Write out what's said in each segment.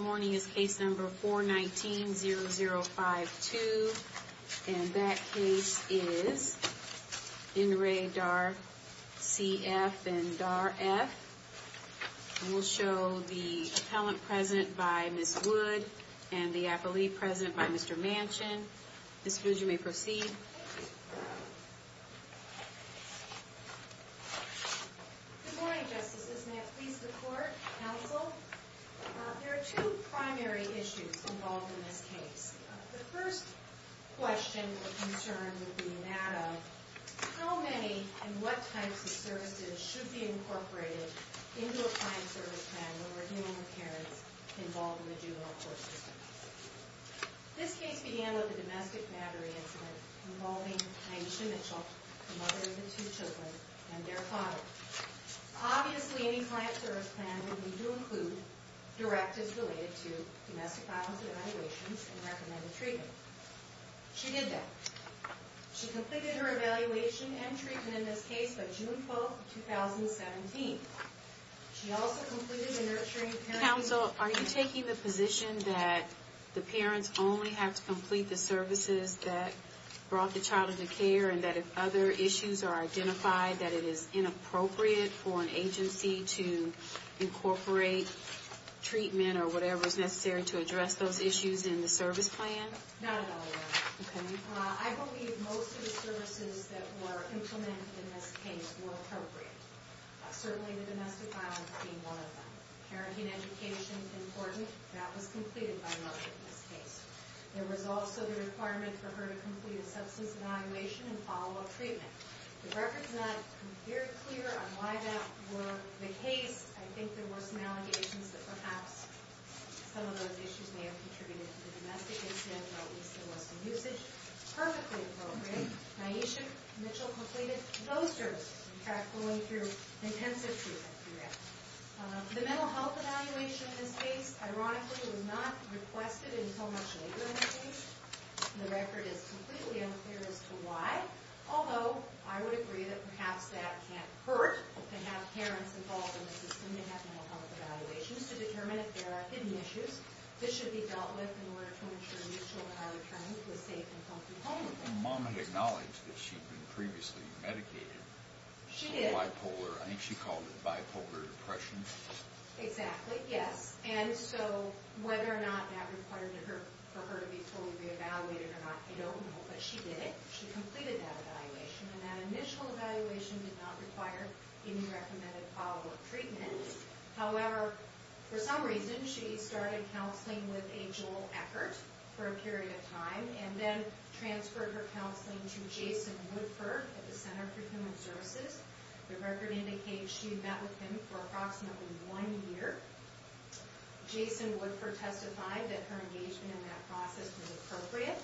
Morning is case number four nineteen zero zero five two and that case is in the radar C. F. and R. F. We'll show the present by Miss Wood and the appellee present by Mr. Manchin. This would you may proceed. Good morning, justices. May I please the court counsel. There are two primary issues involved in this case. The first question or concern would be that of how many and what types of services should be incorporated into a client service plan when we're dealing with parents involved in the juvenile court system. This case began with a domestic battery incident involving the mother of the two children and their father. Obviously, any client service plan would need to include directives related to domestic violence evaluations and recommended treatment. She did that. She completed her evaluation and treatment in this case by June 12th, 2017. She also completed a nurturing council. Are you taking the position that the parents only have to complete the services that brought the child into care and that if other issues are identified, that it is inappropriate for an agency to incorporate treatment or whatever is necessary to address those issues in the service plan? I believe most of the services that were implemented in this case were appropriate. Certainly, the domestic violence being one of them, parenting, education, important, that was completed by the mother in this case. There was also the requirement for her to complete a substance evaluation and follow up treatment. The record's not very clear on why that were the case. I think there were some allegations that perhaps some of those issues may have contributed to the domestic incident, but at least there was some usage. Perfectly appropriate. Nyasha Mitchell completed those services, in fact, going through intensive treatment for that. The mental health evaluation in this case, ironically, was not requested until much later in the case. The record is completely unclear as to why, although I would agree that perhaps that can't hurt to have parents involved in the system to have mental health evaluations to determine if there are hidden issues that should be dealt with in order to ensure these children are returning to a safe and comfortable home. Mom acknowledged that she'd been previously medicated. Bipolar, I think she called it bipolar depression. Exactly, yes. And so whether or not that required for her to be fully re-evaluated or not, I don't know, but she did it. She completed that evaluation, and that initial evaluation did not require any recommended follow-up treatment. However, for some reason, she started counseling with a Joel Eckert for a period of time and then transferred her counseling to Jason Woodford at the Center for Human Services. The record indicates she met with him for approximately one year. Jason Woodford testified that her engagement in that process was appropriate,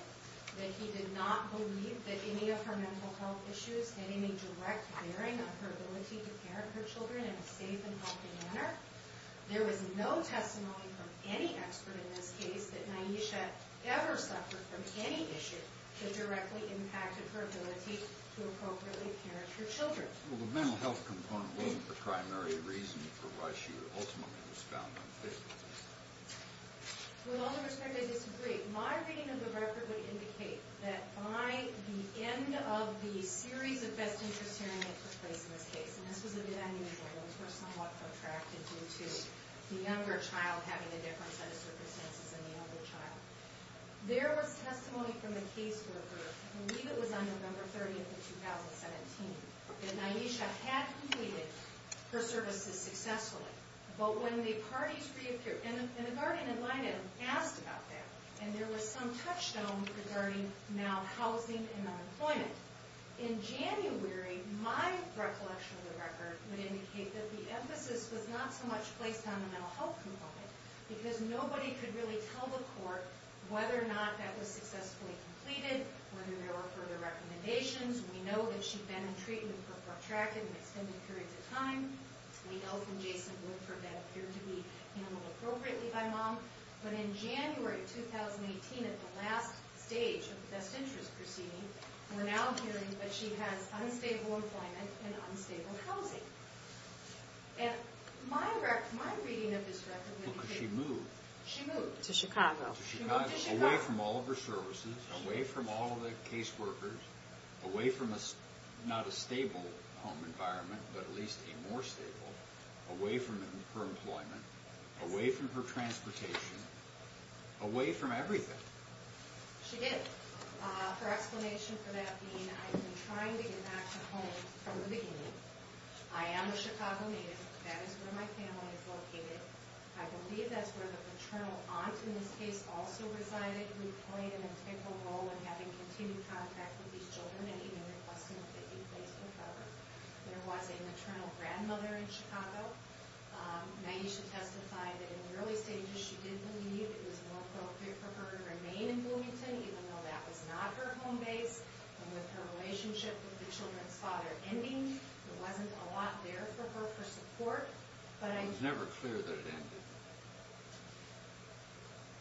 that he did not believe that any of her mental health issues had any direct bearing on her ability to parent her children in a safe and healthy manner. There was no testimony from any expert in this case that Ny'Asia ever suffered from any issue that directly impacted her ability to appropriately parent her children. Well, the mental health component wasn't the primary reason for why she ultimately was found unfit. With all due respect, I disagree. My reading of the record would indicate that by the end of the series of best interest hearings that took place in this case, and this was a bit unusual, those were somewhat protracted due to the younger child having a different set of circumstances than the older child. There was testimony from a caseworker, I believe it was on November 30th of 2017, that Ny'Asia had completed her services successfully. But when the parties reappeared, and the guardian in line had asked about that, and there was some touchstone regarding now housing and unemployment. In January, my recollection of the record would indicate that the emphasis was not so much placed on the mental health component because nobody could really tell the court whether or not that was successfully completed, whether there were further recommendations. We know that she'd been in treatment for protracted and extended periods of time. The health and Jason would for that appear to be handled appropriately by mom. But in January 2018, at the last stage of the best interest proceeding, we're now hearing that she has unstable employment and unstable housing. And my reading of this record would indicate that she moved to Chicago, away from all of her services, away from all of the caseworkers, away from not a stable home environment, but at least a more stable, away from her employment, away from her transportation, away from everything. She did. Her explanation for that being, I've been trying to get back to home from the beginning. I am a Chicago native. That is where my family is located. I believe that's where the paternal aunt in this case also resided. We played an integral role in having continued contact with these children and even requesting that they be placed in cover. There was a maternal grandmother in Chicago. Naisha testified that in the early stages, she did believe it was more appropriate for her to remain in Bloomington, even though that was not her home base. And with her relationship with the children's father ending, there wasn't a lot there for her for support. But I was never clear that it ended.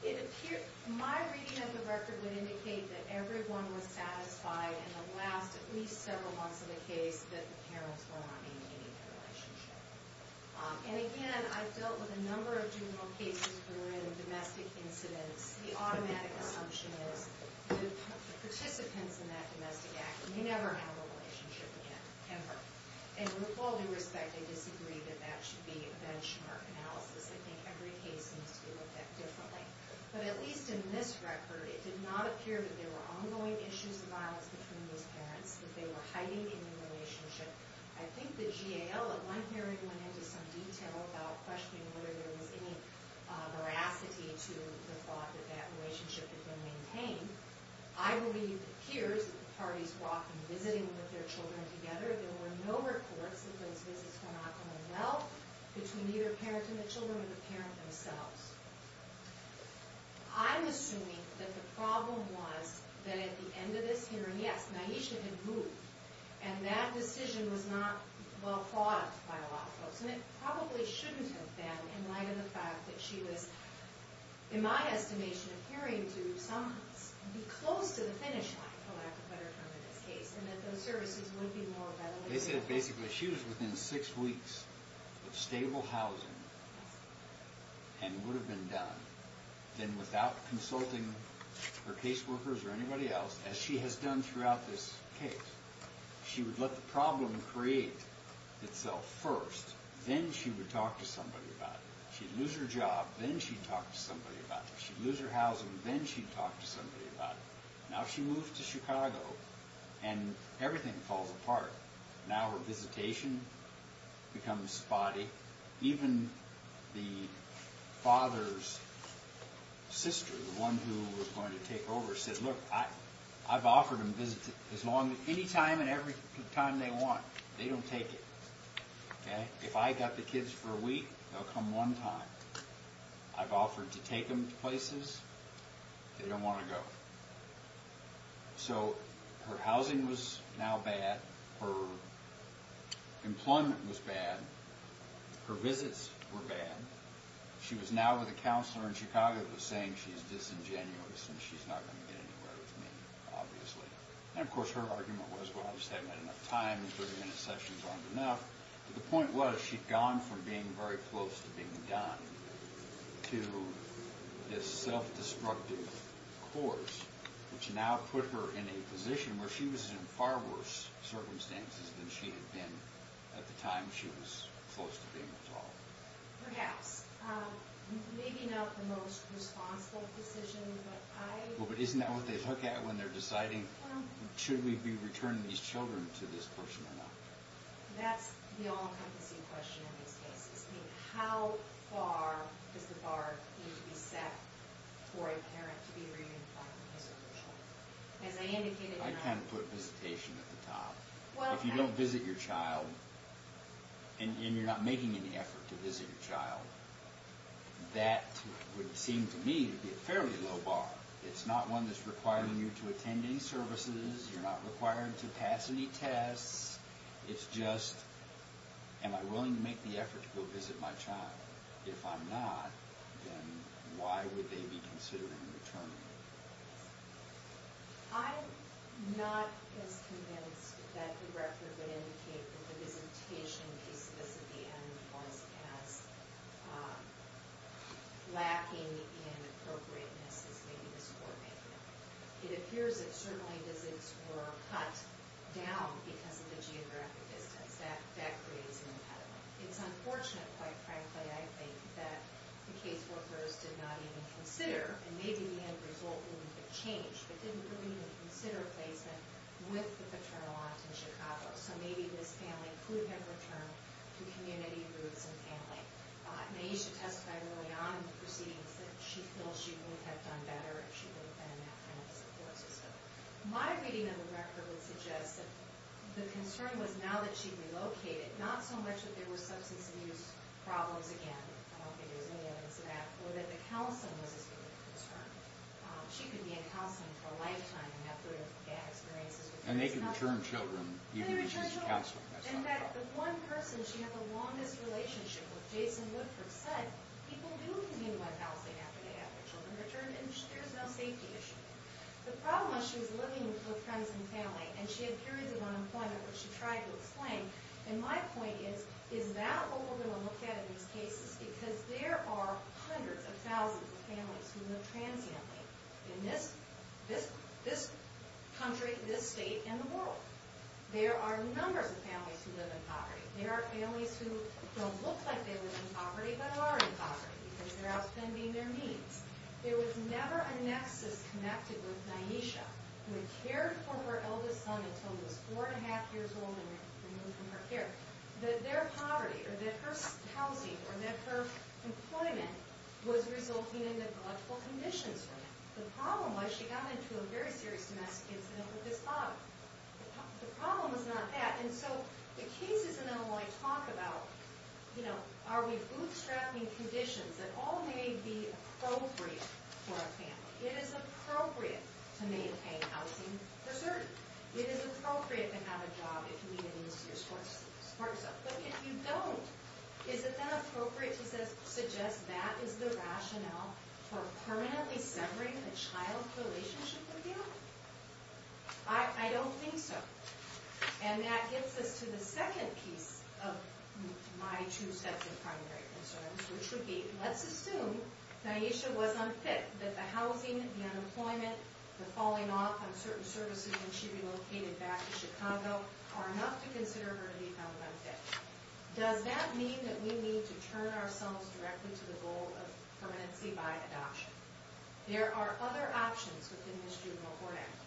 It appeared my reading of the record would indicate that everyone was satisfied in the last at least several months of the case that the parents were not ending their relationship. And again, I've dealt with a number of juvenile cases that are in domestic incidents. The automatic assumption is that the participants in that domestic accident may never have a relationship again, ever. And with all due respect, I disagree that that should be a benchmark analysis. I think every case needs to be looked at differently. But at least in this record, it did not appear that there were ongoing issues of violence between those parents, that they were hiding in the relationship. I think the GAL at one hearing went into some detail about questioning whether there was any veracity to the thought that that relationship had been maintained. I believe it appears that the parties walked in visiting with their children together. There were no reports that those visits were not going well between either parent and the children, or the parent themselves. I'm assuming that the problem was that at the end of this hearing, yes, Naisha had moved. And that decision was not well thought of by a lot of folks. And it probably shouldn't have been, in light of the fact that she was, in my estimation, appearing to be close to the finish line, for lack of a better term in this case. And that those services would be more readily available. Basically, she was within six weeks of stable housing, and would have been done, then without consulting her caseworkers or anybody else, as she has done throughout this case. She would let the problem create itself first, then she would talk to somebody about it. She'd lose her job, then she'd talk to somebody about it. She'd lose her housing, then she'd talk to somebody about it. Now she moves to Chicago, and everything falls apart. Now her visitation becomes spotty. Even the father's sister, the one who was going to take over, said, look, I've offered them visits any time and every time they want. They don't take it. If I got the kids for a week, they'll come one time. I've offered to take them to places they don't want to go. So, her housing was now bad, her employment was bad, her visits were bad, she was now with a counselor in Chicago who was saying she's disingenuous and she's not going to get anywhere with me, obviously. And of course, her argument was, well, I just haven't had enough time, 30-minute sessions aren't enough. But the point was, she'd gone from being very close to being done to this self-destructive course, which now put her in a position where she was in far worse circumstances than she had been at the time she was close to being at all. Perhaps. Maybe not the most responsible decision, but I... Well, but isn't that what they look at when they're deciding, should we be returning these children to this person or not? That's the all-encompassing question in these cases. I mean, how far does the bar need to be set for a parent to be re-implied when they serve their child? As I indicated in our... I kind of put visitation at the top. Well, I... If you don't visit your child, and you're not making any effort to visit your child, that would seem to me to be a fairly low bar. It's not one that's requiring you to attend any services, you're not required to pass any tests, it's just, am I willing to make the effort to go visit my child? If I'm not, then why would they be considered in return? I'm not as convinced that the record would indicate that the visitation piece of this at the end was as lacking in appropriateness as maybe the score may be. It appears that certainly visits were cut down because of the geographic distance. That creates an impediment. It's unfortunate, quite frankly, I think, that the case workers did not even consider, and maybe the end result wouldn't have changed, but didn't really even consider placement with the paternal aunt in Chicago. So maybe this family could have returned to community roots and family. Naisha testified early on in the proceedings that she feels she would have done better if she would have been in that kind of support system. My reading of the record would suggest that the concern was now that she relocated, not so much that there were substance abuse problems again, I don't think there was any evidence of that, or that the counseling was a significant concern. She could be in counseling for a lifetime and have good and bad experiences with those counselors. And they could return children, even if she's counseling, that's not a problem. And that the one person she had the longest relationship with, Jason Woodford, said people do commute to my housing after they have their children returned and there's no safety issue. The problem was she was living with friends and family, and she had periods of unemployment, which she tried to explain. And my point is, is that what we're going to look at in these cases? Because there are hundreds of thousands of families who live transiently in this country, this state, and the world. There are numbers of families who live in poverty. There are families who don't look like they live in poverty, but are in poverty, because they're outspending their means. There was never a nexus connected with Nyesha, who had cared for her eldest son until he was four and a half years old and removed from her care. That their poverty, or that her housing, or that her employment, was resulting in neglectful conditions for them. The problem was she got into a very serious domestic incident with his father. The problem was not that, and so the cases in Illinois talk about, you know, are we bootstrapping conditions that all may be appropriate for a family. It is appropriate to maintain housing for certain. It is appropriate to have a job if you need it to support yourself. But if you don't, is it then appropriate to suggest that is the rationale for permanently severing the child's relationship with you? I don't think so. And that gets us to the second piece of my two sets of primary concerns, which would be, let's assume Nyesha was unfit. That the housing, the unemployment, the falling off on certain services when she relocated back to Chicago are enough to consider her leave unfit. Does that mean that we need to turn ourselves directly to the goal of permanency by adoption? There are other options within the Student Law Court Act.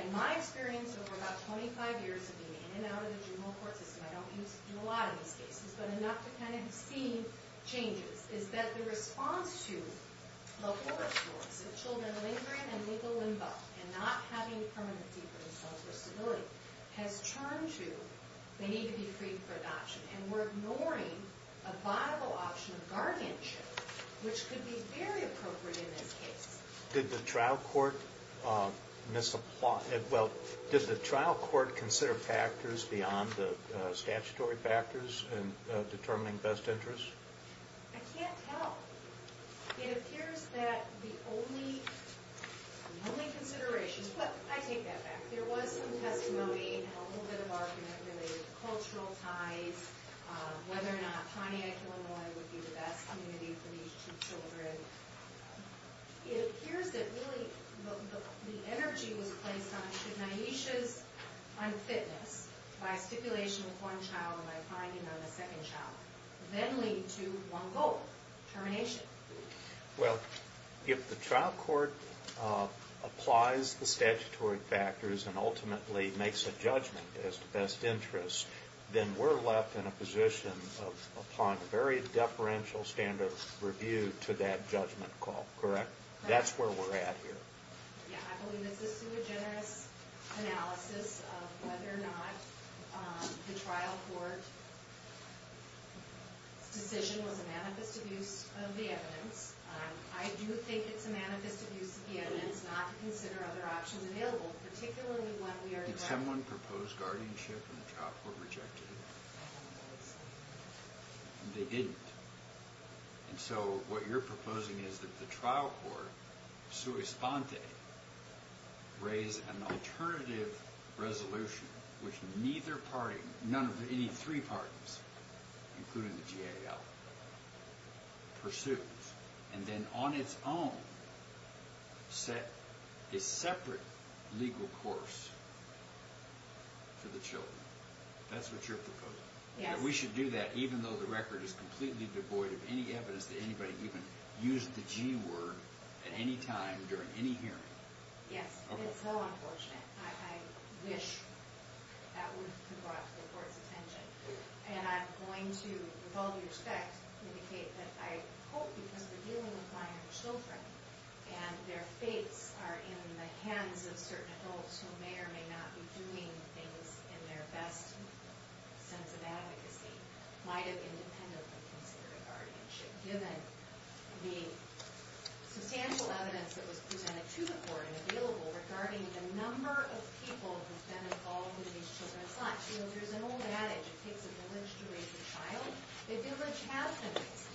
And my experience over about 25 years of being in and out of the juvenile court system, I don't do a lot of these cases, but enough to kind of see changes, is that the response to the horror stories of children lingering in legal limbo and not having permanency for themselves or stability has turned to, they need to be freed for adoption. And we're ignoring a viable option of guardianship, which could be very appropriate in this case. Did the trial court, well, did the trial court consider factors beyond the statutory factors in determining best interest? I can't tell. It appears that the only considerations, but I take that back. There was some testimony and a little bit of argument related to cultural ties, whether or not Pontiac Illinois would be the best community for these two children. It appears that really the energy was placed on should Nyesha's unfitness by stipulation of one child or by finding on a second child, then lead to one goal, termination. Well, if the trial court applies the statutory factors and ultimately makes a judgment as to best interest, then we're left in a position of upon a very deferential standard of review to that judgment call, correct? That's where we're at here. Yeah, I believe this is through a generous analysis of whether or not the trial court's decision was a manifest abuse of the evidence. I do think it's a manifest abuse of the evidence not to consider other options available, particularly when we are- Did someone propose guardianship and the trial court rejected it? No. They didn't. And so what you're proposing is that the trial court, sui sponte, raise an alternative resolution, which neither party, none of any three parties, including the GAL, pursues. And then on its own, set a separate legal course for the children. That's what you're proposing. Yes. We should do that even though the record is completely devoid of any evidence that anybody even used the G word at any time during any hearing. Yes. It's so unfortunate. I wish that would have brought the court's attention. And I'm going to, with all due respect, indicate that I hope, because we're dealing with minor children, and their fates are in the hands of certain adults who may or may not be doing things in their best sense of advocacy, might have independently considered guardianship, given the substantial evidence that was presented to the court and available regarding the number of people who've been involved in these children's lives. You know, there's an old adage. It takes a village to raise a child. The village has been raised.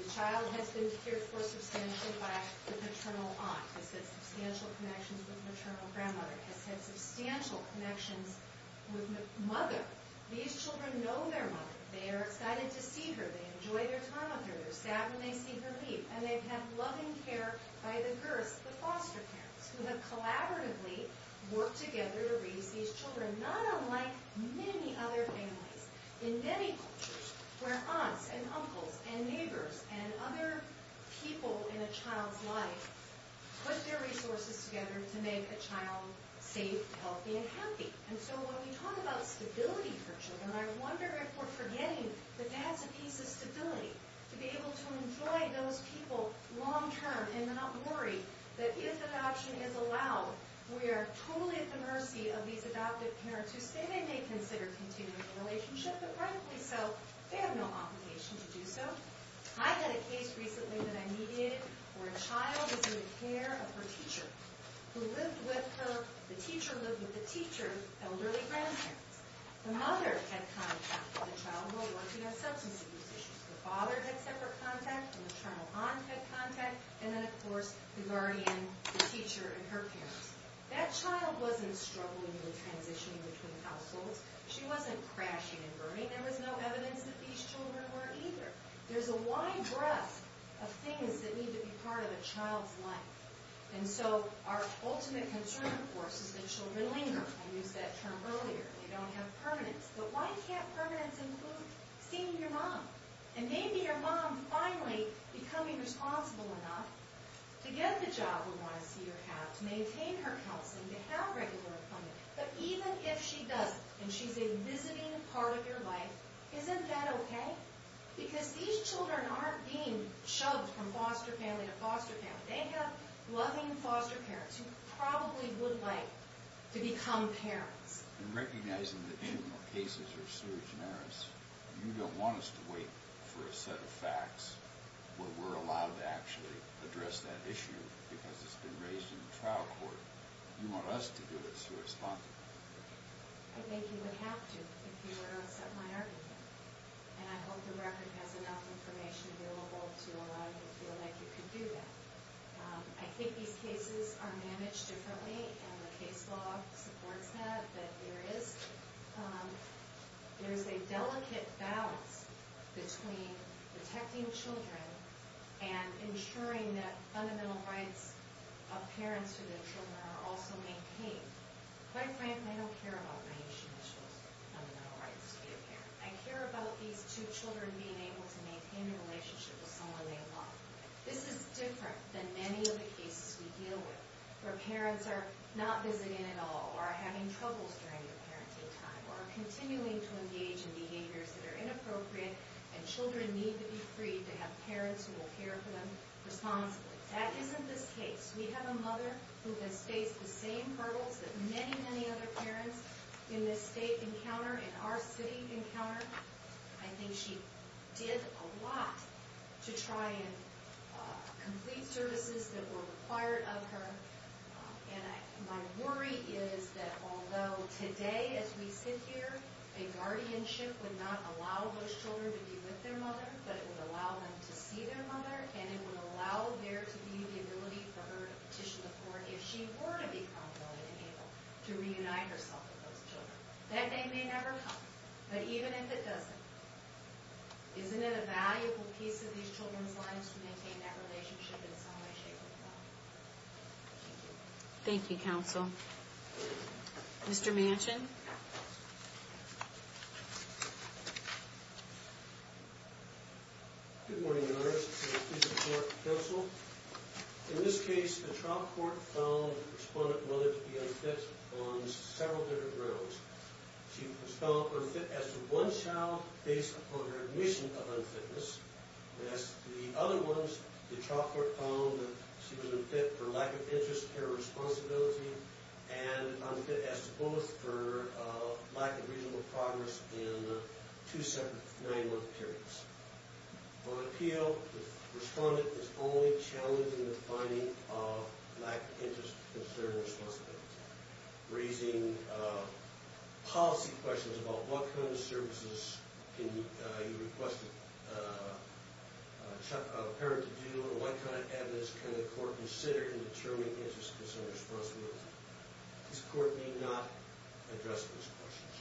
The child has been cared for substantially by the paternal aunt, has had substantial connections with maternal grandmother, has had substantial connections with mother. These children know their mother. They are excited to see her. They enjoy their time with her. They're sad when they see her leave. And they've had loving care by the girths, the foster parents, who have collaboratively worked together to raise these children, not unlike many other families. In many cultures, where aunts and uncles and neighbors and other people in a child's life put their resources together to make a child safe, healthy, and happy. And so when we talk about stability for children, I wonder if we're forgetting that that's a piece of stability. To be able to enjoy those people long term and not worry that if adoption is allowed, we are totally at the mercy of these adoptive parents who say they may consider continuing the relationship, but privately so, they have no obligation to do so. I had a case recently that I needed, where a child was in the care of her teacher, who lived with her, the teacher lived with the teacher's elderly grandparents. The mother had contact with the child while working on substance abuse issues. The father had separate contact, and the paternal aunt had contact, and then of course, the guardian, the teacher, and her parents. That child wasn't struggling with transitioning between households. She wasn't crashing and burning. There was no evidence that these children were either. There's a wide breadth of things that need to be part of a child's life. And so our ultimate concern, of course, is that children linger. I used that term earlier. They don't have permanence. But why can't permanence include seeing your mom? And maybe your mom finally becoming responsible enough to get the job we want to see her have, to maintain her health, and to have regular employment. But even if she doesn't, and she's a visiting part of your life, isn't that okay? Because these children aren't being shoved from foster family to foster family. They have loving foster parents who probably would like to become parents. In recognizing that juvenile cases are sui generis, you don't want us to wait for a set of facts where we're allowed to actually address that issue. Because it's been raised in trial court. You want us to do this. You respond to it. I think you would have to if you were to accept my argument. And I hope the record has enough information available to allow you to feel like you can do that. I think these cases are managed differently. And the case law supports that. I think that there is a delicate balance between protecting children and ensuring that fundamental rights of parents to their children are also maintained. Quite frankly, I don't care about my issue as far as fundamental rights to be a parent. I care about these two children being able to maintain a relationship with someone they love. This is different than many of the cases we deal with. Where parents are not visiting at all. Or are having troubles during the parenting time. Or are continuing to engage in behaviors that are inappropriate. And children need to be free to have parents who will care for them responsibly. That isn't this case. We have a mother who has faced the same hurdles that many, many other parents in this state encounter. In our city encounter. I think she did a lot to try and complete services that were required of her. And my worry is that although today as we sit here, a guardianship would not allow those children to be with their mother. But it would allow them to see their mother. And it would allow there to be the ability for her to petition the court if she were to be prompted and able to reunite herself with those children. That day may never come. But even if it doesn't. Isn't it a valuable piece of these children's lives to maintain that relationship in some way, shape, or form. Thank you. Thank you, counsel. Mr. Manchin. Good morning, Your Honor. Please support counsel. In this case, the trial court found the respondent mother to be unfit on several different grounds. She was found unfit as to one child based upon her admission of unfitness. As to the other ones, the trial court found that she was unfit for lack of interest, care, or responsibility. And unfit as to both for lack of reasonable progress in two separate nine-month periods. On appeal, the respondent is only challenging the finding of lack of interest, concern, or responsibility. Raising policy questions about what kind of services can you request a parent to do, and what kind of evidence can the court consider in determining interest, concern, or responsibility. This court need not address those questions.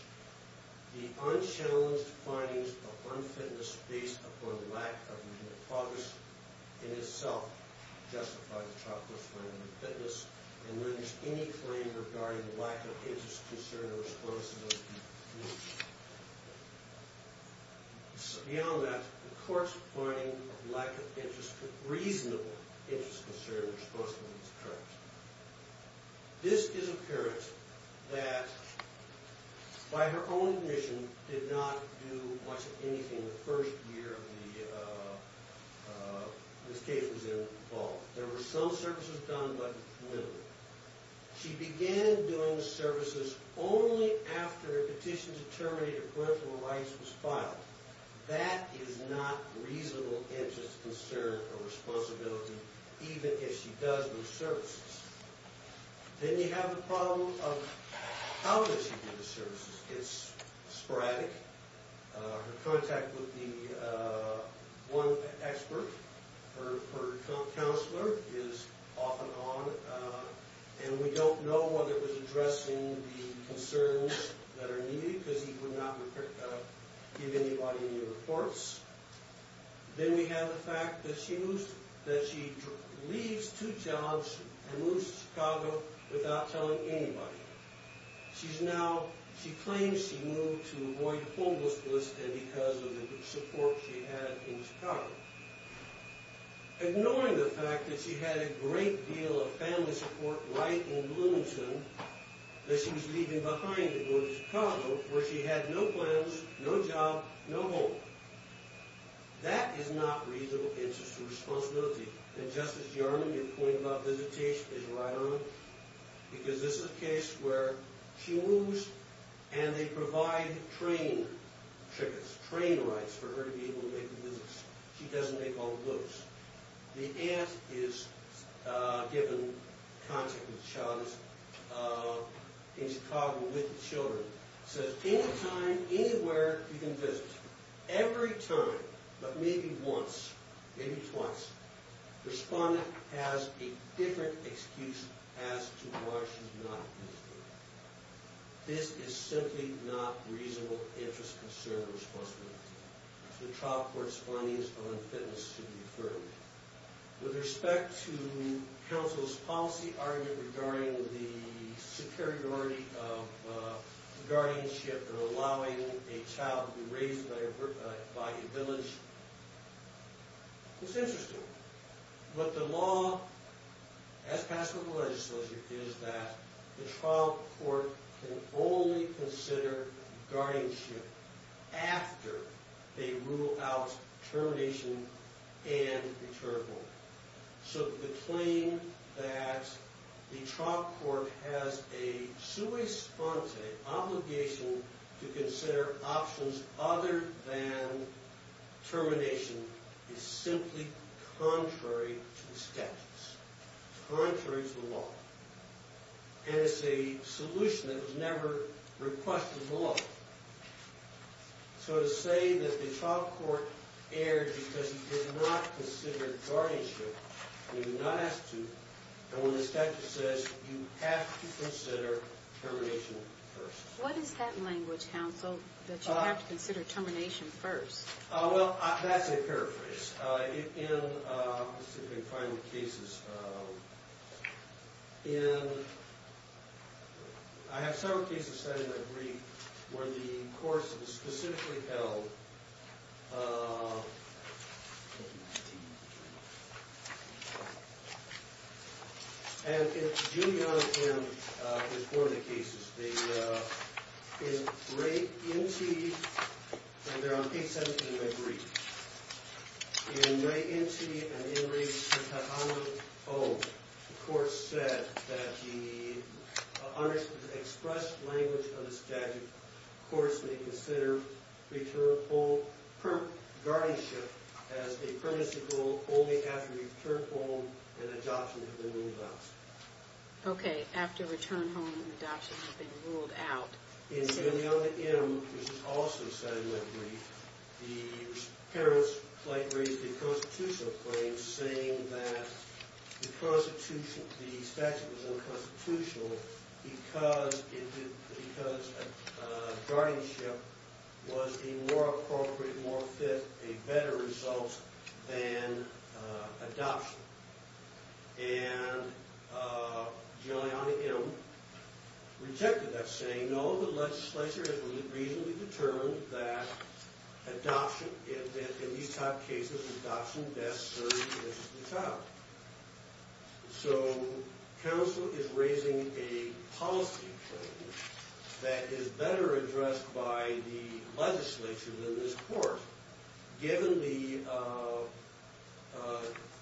The unchallenged findings of unfitness based upon lack of progress in itself justify the trial court's finding of unfitness and limits any claim regarding lack of interest, concern, or responsibility. Beyond that, the court's finding of lack of reasonable interest, concern, or responsibility is current. This is a parent that, by her own admission, did not do much of anything the first year this case was involved. There were some services done, but little. She began doing services only after a petition to terminate her parental rights was filed. That is not reasonable interest, concern, or responsibility, even if she does do services. Then you have the problem of how does she do the services? It's sporadic. Her contact with the one expert, her counselor, is off and on. And we don't know whether it was addressing the concerns that are needed because he would not give anybody any reports. Then we have the fact that she leaves two jobs and moves to Chicago without telling anybody. She claims she moved to avoid homelessness because of the support she had in Chicago. Ignoring the fact that she had a great deal of family support right in Bloomington that she was leaving behind to go to Chicago where she had no plans, no job, no home. That is not reasonable interest or responsibility. And Justice Yarman, your point about visitation is right on because this is a case where she moves and they provide train tickets, train rights for her to be able to make the visits. She doesn't make all the books. The aunt is given contact with the child in Chicago with the children. So anytime, anywhere you can visit, every time, but maybe once, maybe twice, the respondent has a different excuse as to why she's not visiting. This is simply not reasonable interest, concern, or responsibility. The trial court's findings on fitness should be affirmed. With respect to counsel's policy argument regarding the superiority of guardianship or allowing a child to be raised by a village, it's interesting. What the law has passed with the legislature is that the trial court can only consider guardianship after they rule out termination and return home. So the claim that the trial court has a sui sponte obligation to consider options other than termination is simply contrary to the statutes, contrary to the law. And it's a solution that was never requested in the law. So to say that the trial court erred because you did not consider guardianship, you do not have to, and when the statute says you have to consider termination first. What is that language, counsel, that you have to consider termination first? Well, that's a paraphrase. In specific final cases, I have several cases studied in my brief where the courts specifically held Thank you. And in Julian and his formative cases, in Ray Entee, and they're on page 17 of my brief, in Ray Entee and in Ray Shantahala O, the court said that the unexpressed language of the statute courts may consider return home, guardianship as a permanency rule only after return home and adoption have been ruled out. Okay, after return home and adoption have been ruled out. In Julian M., which is also studied in my brief, the parents raised a constitutional claim saying that the statute was unconstitutional because guardianship was a more appropriate, more fit, a better result than adoption. And Julian M. rejected that saying no, the legislature has reasonably determined that adoption, in these type cases, adoption best serves the child. So, counsel is raising a policy claim that is better addressed by the legislature than this court given the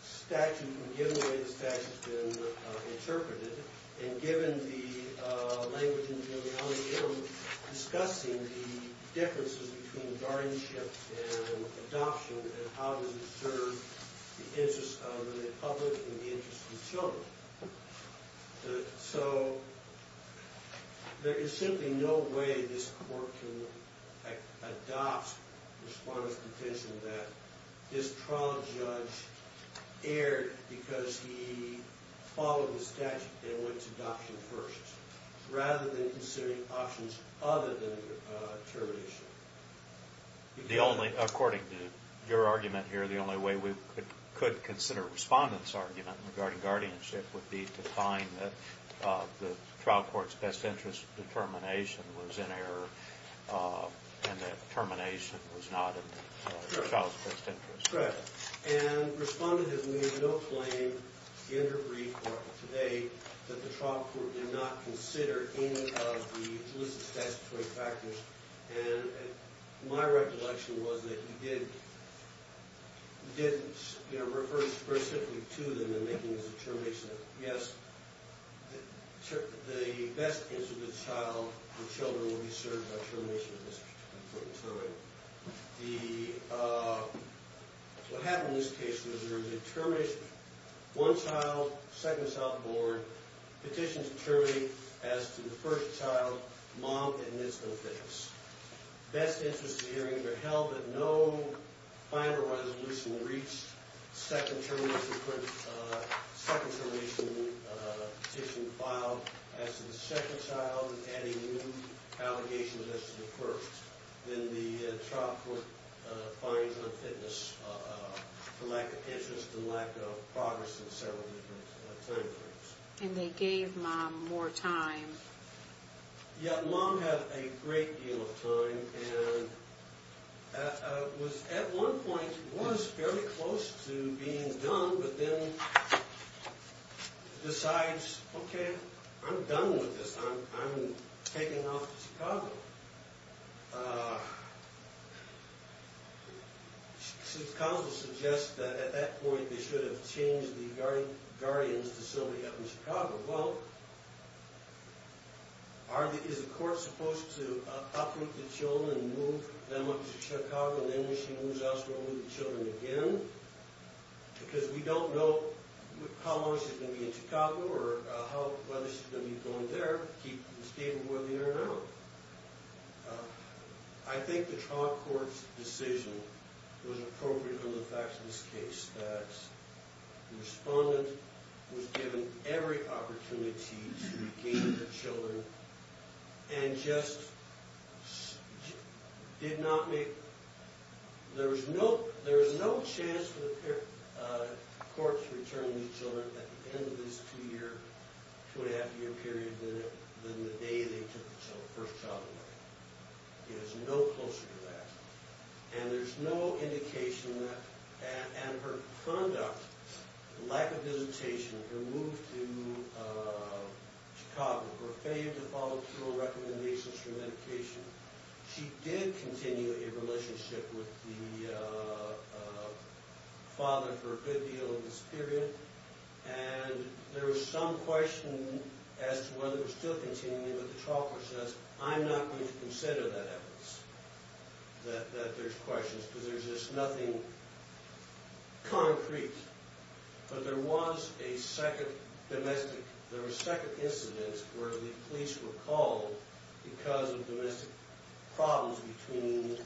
statute and given the way the statute has been interpreted and given the language in Julian M. discussing the differences between guardianship and adoption and how does it serve the public and the interests of children. So, there is simply no way this court can adopt the Respondent's provision that this trial judge erred because he followed the statute and went to adoption first. Rather than considering options other than termination. According to your argument here, the only way we could consider Respondent's argument regarding guardianship would be to find that the trial court's best interest determination was in error and that termination was not in the child's best interest. And Respondent has made no claim in her brief today that the trial court did not consider any of the solicit statutory factors and my recollection was that he did refer specifically to them in making his determination that yes the best interest of the child and children will be served by termination in this case. What happened in this case was there was a termination. One child second child in the board petitions termination as to the first child, mom admits no fitness. Best interest hearing are held that no final resolution will reach second termination petition filed as to the second child adding new allegations as to the first. Then the trial court finds on fitness the lack of interest and lack of progress in several different time frames. And they gave mom more time. Yeah, mom had a great deal of time and at one point it was fairly close to being done but then it decides okay I'm done with this I'm taking off to Chicago. Counsel suggests that at that point they should have changed the guardians to somebody up in Chicago. Well is the court supposed to uproot the children and move them up to uproot the children again? Because we don't know how long she's going to be in Chicago or whether she's going to be going there to keep the stable whether or not. I think the trial court's decision was appropriate on the facts of this case that the respondent was given every opportunity to regain the children and just did not make there was no chance for the court to return these children at the end of this two year two and a half year period than the day they took the first child away. It is no closer to that. And there's no indication that and her conduct lack of visitation, her move to Chicago, her failure to follow through on recommendations for medication she did continue a relationship with the father for a good deal of this period and there was some question as to whether it was still continuing but the trial court says I'm not going to consider that evidence that there's questions because there's just nothing concrete. But there was a second domestic, there was second incidents where the police were called because of domestic problems between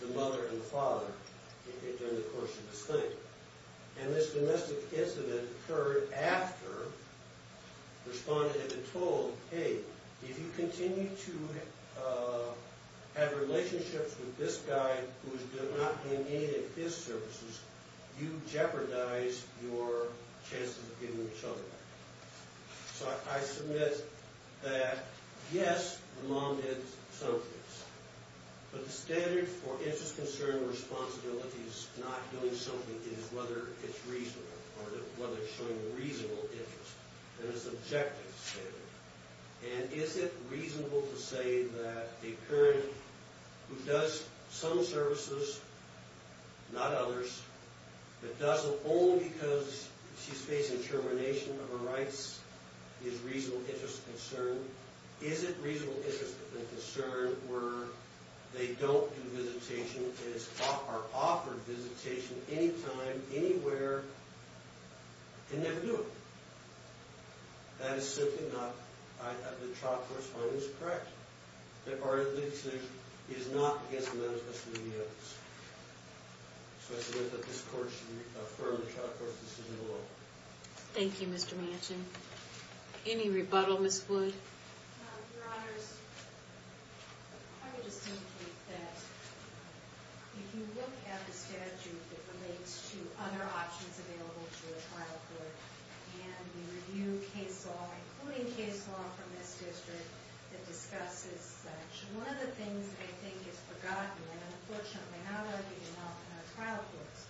the mother and the father during the course of this thing. And this domestic incident occurred after the respondent had been told, hey, if you continue to have relationships with this guy who's not being aided in his services, you jeopardize your chances of getting the children back. So I submit that yes the mom did some things. But the standard for interest, concern, responsibility is not doing something is whether it's reasonable or whether it's showing reasonable interest. And it's objective standard. And is it reasonable to say that a parent who does some services not others, but does it only because she's facing termination of her rights is reasonable interest and concern. Is it reasonable interest and concern where they don't do visitation or are offered visitation anytime, anywhere, and never do it? That is simply not, the trial court's finding is correct. That our decision is not against the manifesto of the evidence. So I submit that this court should reaffirm the trial court's decision alone. Thank you, Mr. Manchin. Any rebuttal, Ms. Wood? Your Honors, I would just indicate that if you look at the statute that relates to other options available to a trial court, and we review case law including case law from this district that discusses such, one of the things that I think is forgotten, and unfortunately I'm not in our trial courts,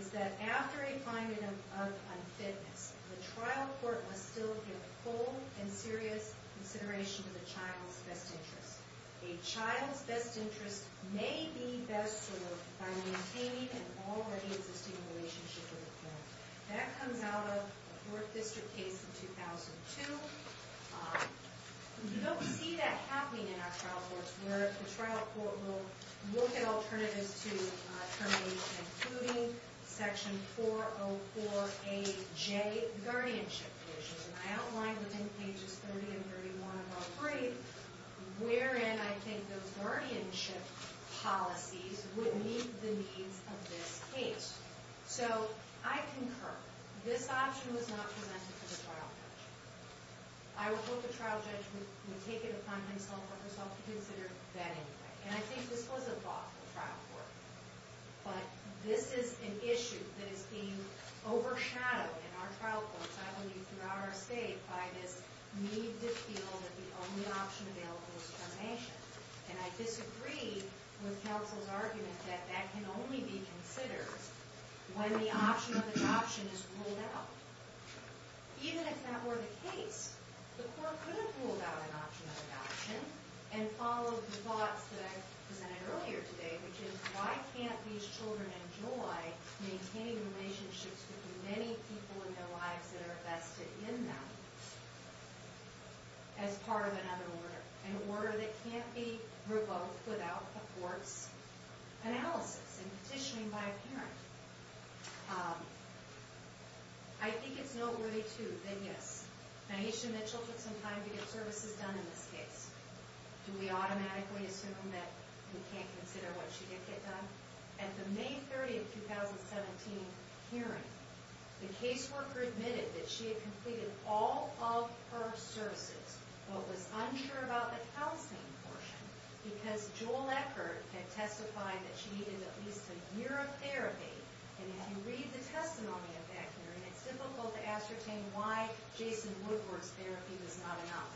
is that after a finding of unfitness, the trial court must still give full and serious consideration to the child's best interest. A child's best interest may be best served by maintaining an already existing relationship with the parent. That comes out of a court district case in 2002. You don't see that happening in our trial courts where the trial court will look at alternatives to termination including section 404AJ guardianship provisions. And I outlined within pages 30 and 31 of our brief wherein I think those guardianship policies would meet the needs of this case. So I concur. This option was not presented to the trial judge. And I think this was a thought for the trial court. But this is an issue that is being overshadowed in our trial courts, I believe throughout our state, by this need to feel that the only option available is termination. And I disagree with counsel's argument that that can only be considered when the option of adoption is ruled out. Even if that were the case, the court could have ruled out an option of adoption and followed the thoughts that I presented earlier today, which is why can't these children enjoy maintaining relationships with many people in their lives that are vested in them as part of another order? An order that can't be revoked without a court's analysis and petitioning by a parent. I think it's noteworthy, too, that yes, Naisha Mitchell took some time to get services done in this case. Do we automatically assume that we can't consider what she did get done? At the May 30, 2017 hearing, the caseworker admitted that she had completed all of her services, but was unsure about the counseling portion because Joel Eckert had testified that she needed at least a year of therapy. And if you read the testimony of that hearing, it's difficult to ascertain why Jason Woodward's therapy was not enough.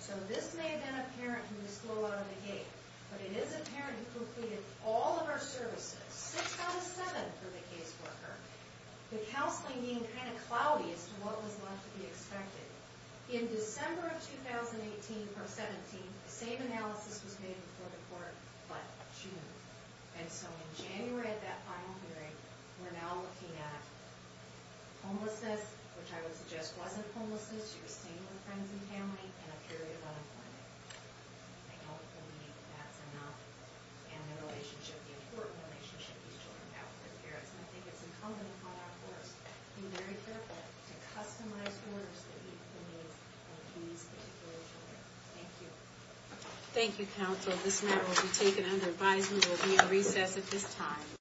So this may have been a parent who was slow out of the gate, but it is a parent who completed all of her services, 6 out of 7 for the caseworker, the counseling being kind of cloudy as to what was going to be expected. In December of 2018, or 17, the same analysis was made before the court by June. And so in January of that final hearing, we're now looking at homelessness, which I would suggest wasn't homelessness, you're staying with friends and family, and a period of unemployment. I don't believe that's enough. And the relationship, the important relationship these children have with their parents. And I think it's incumbent upon our courts to be very careful to customize orders that meet the needs of these particular children. Thank you. Thank you, counsel. This matter will be taken under advisement. We'll be in recess at this time.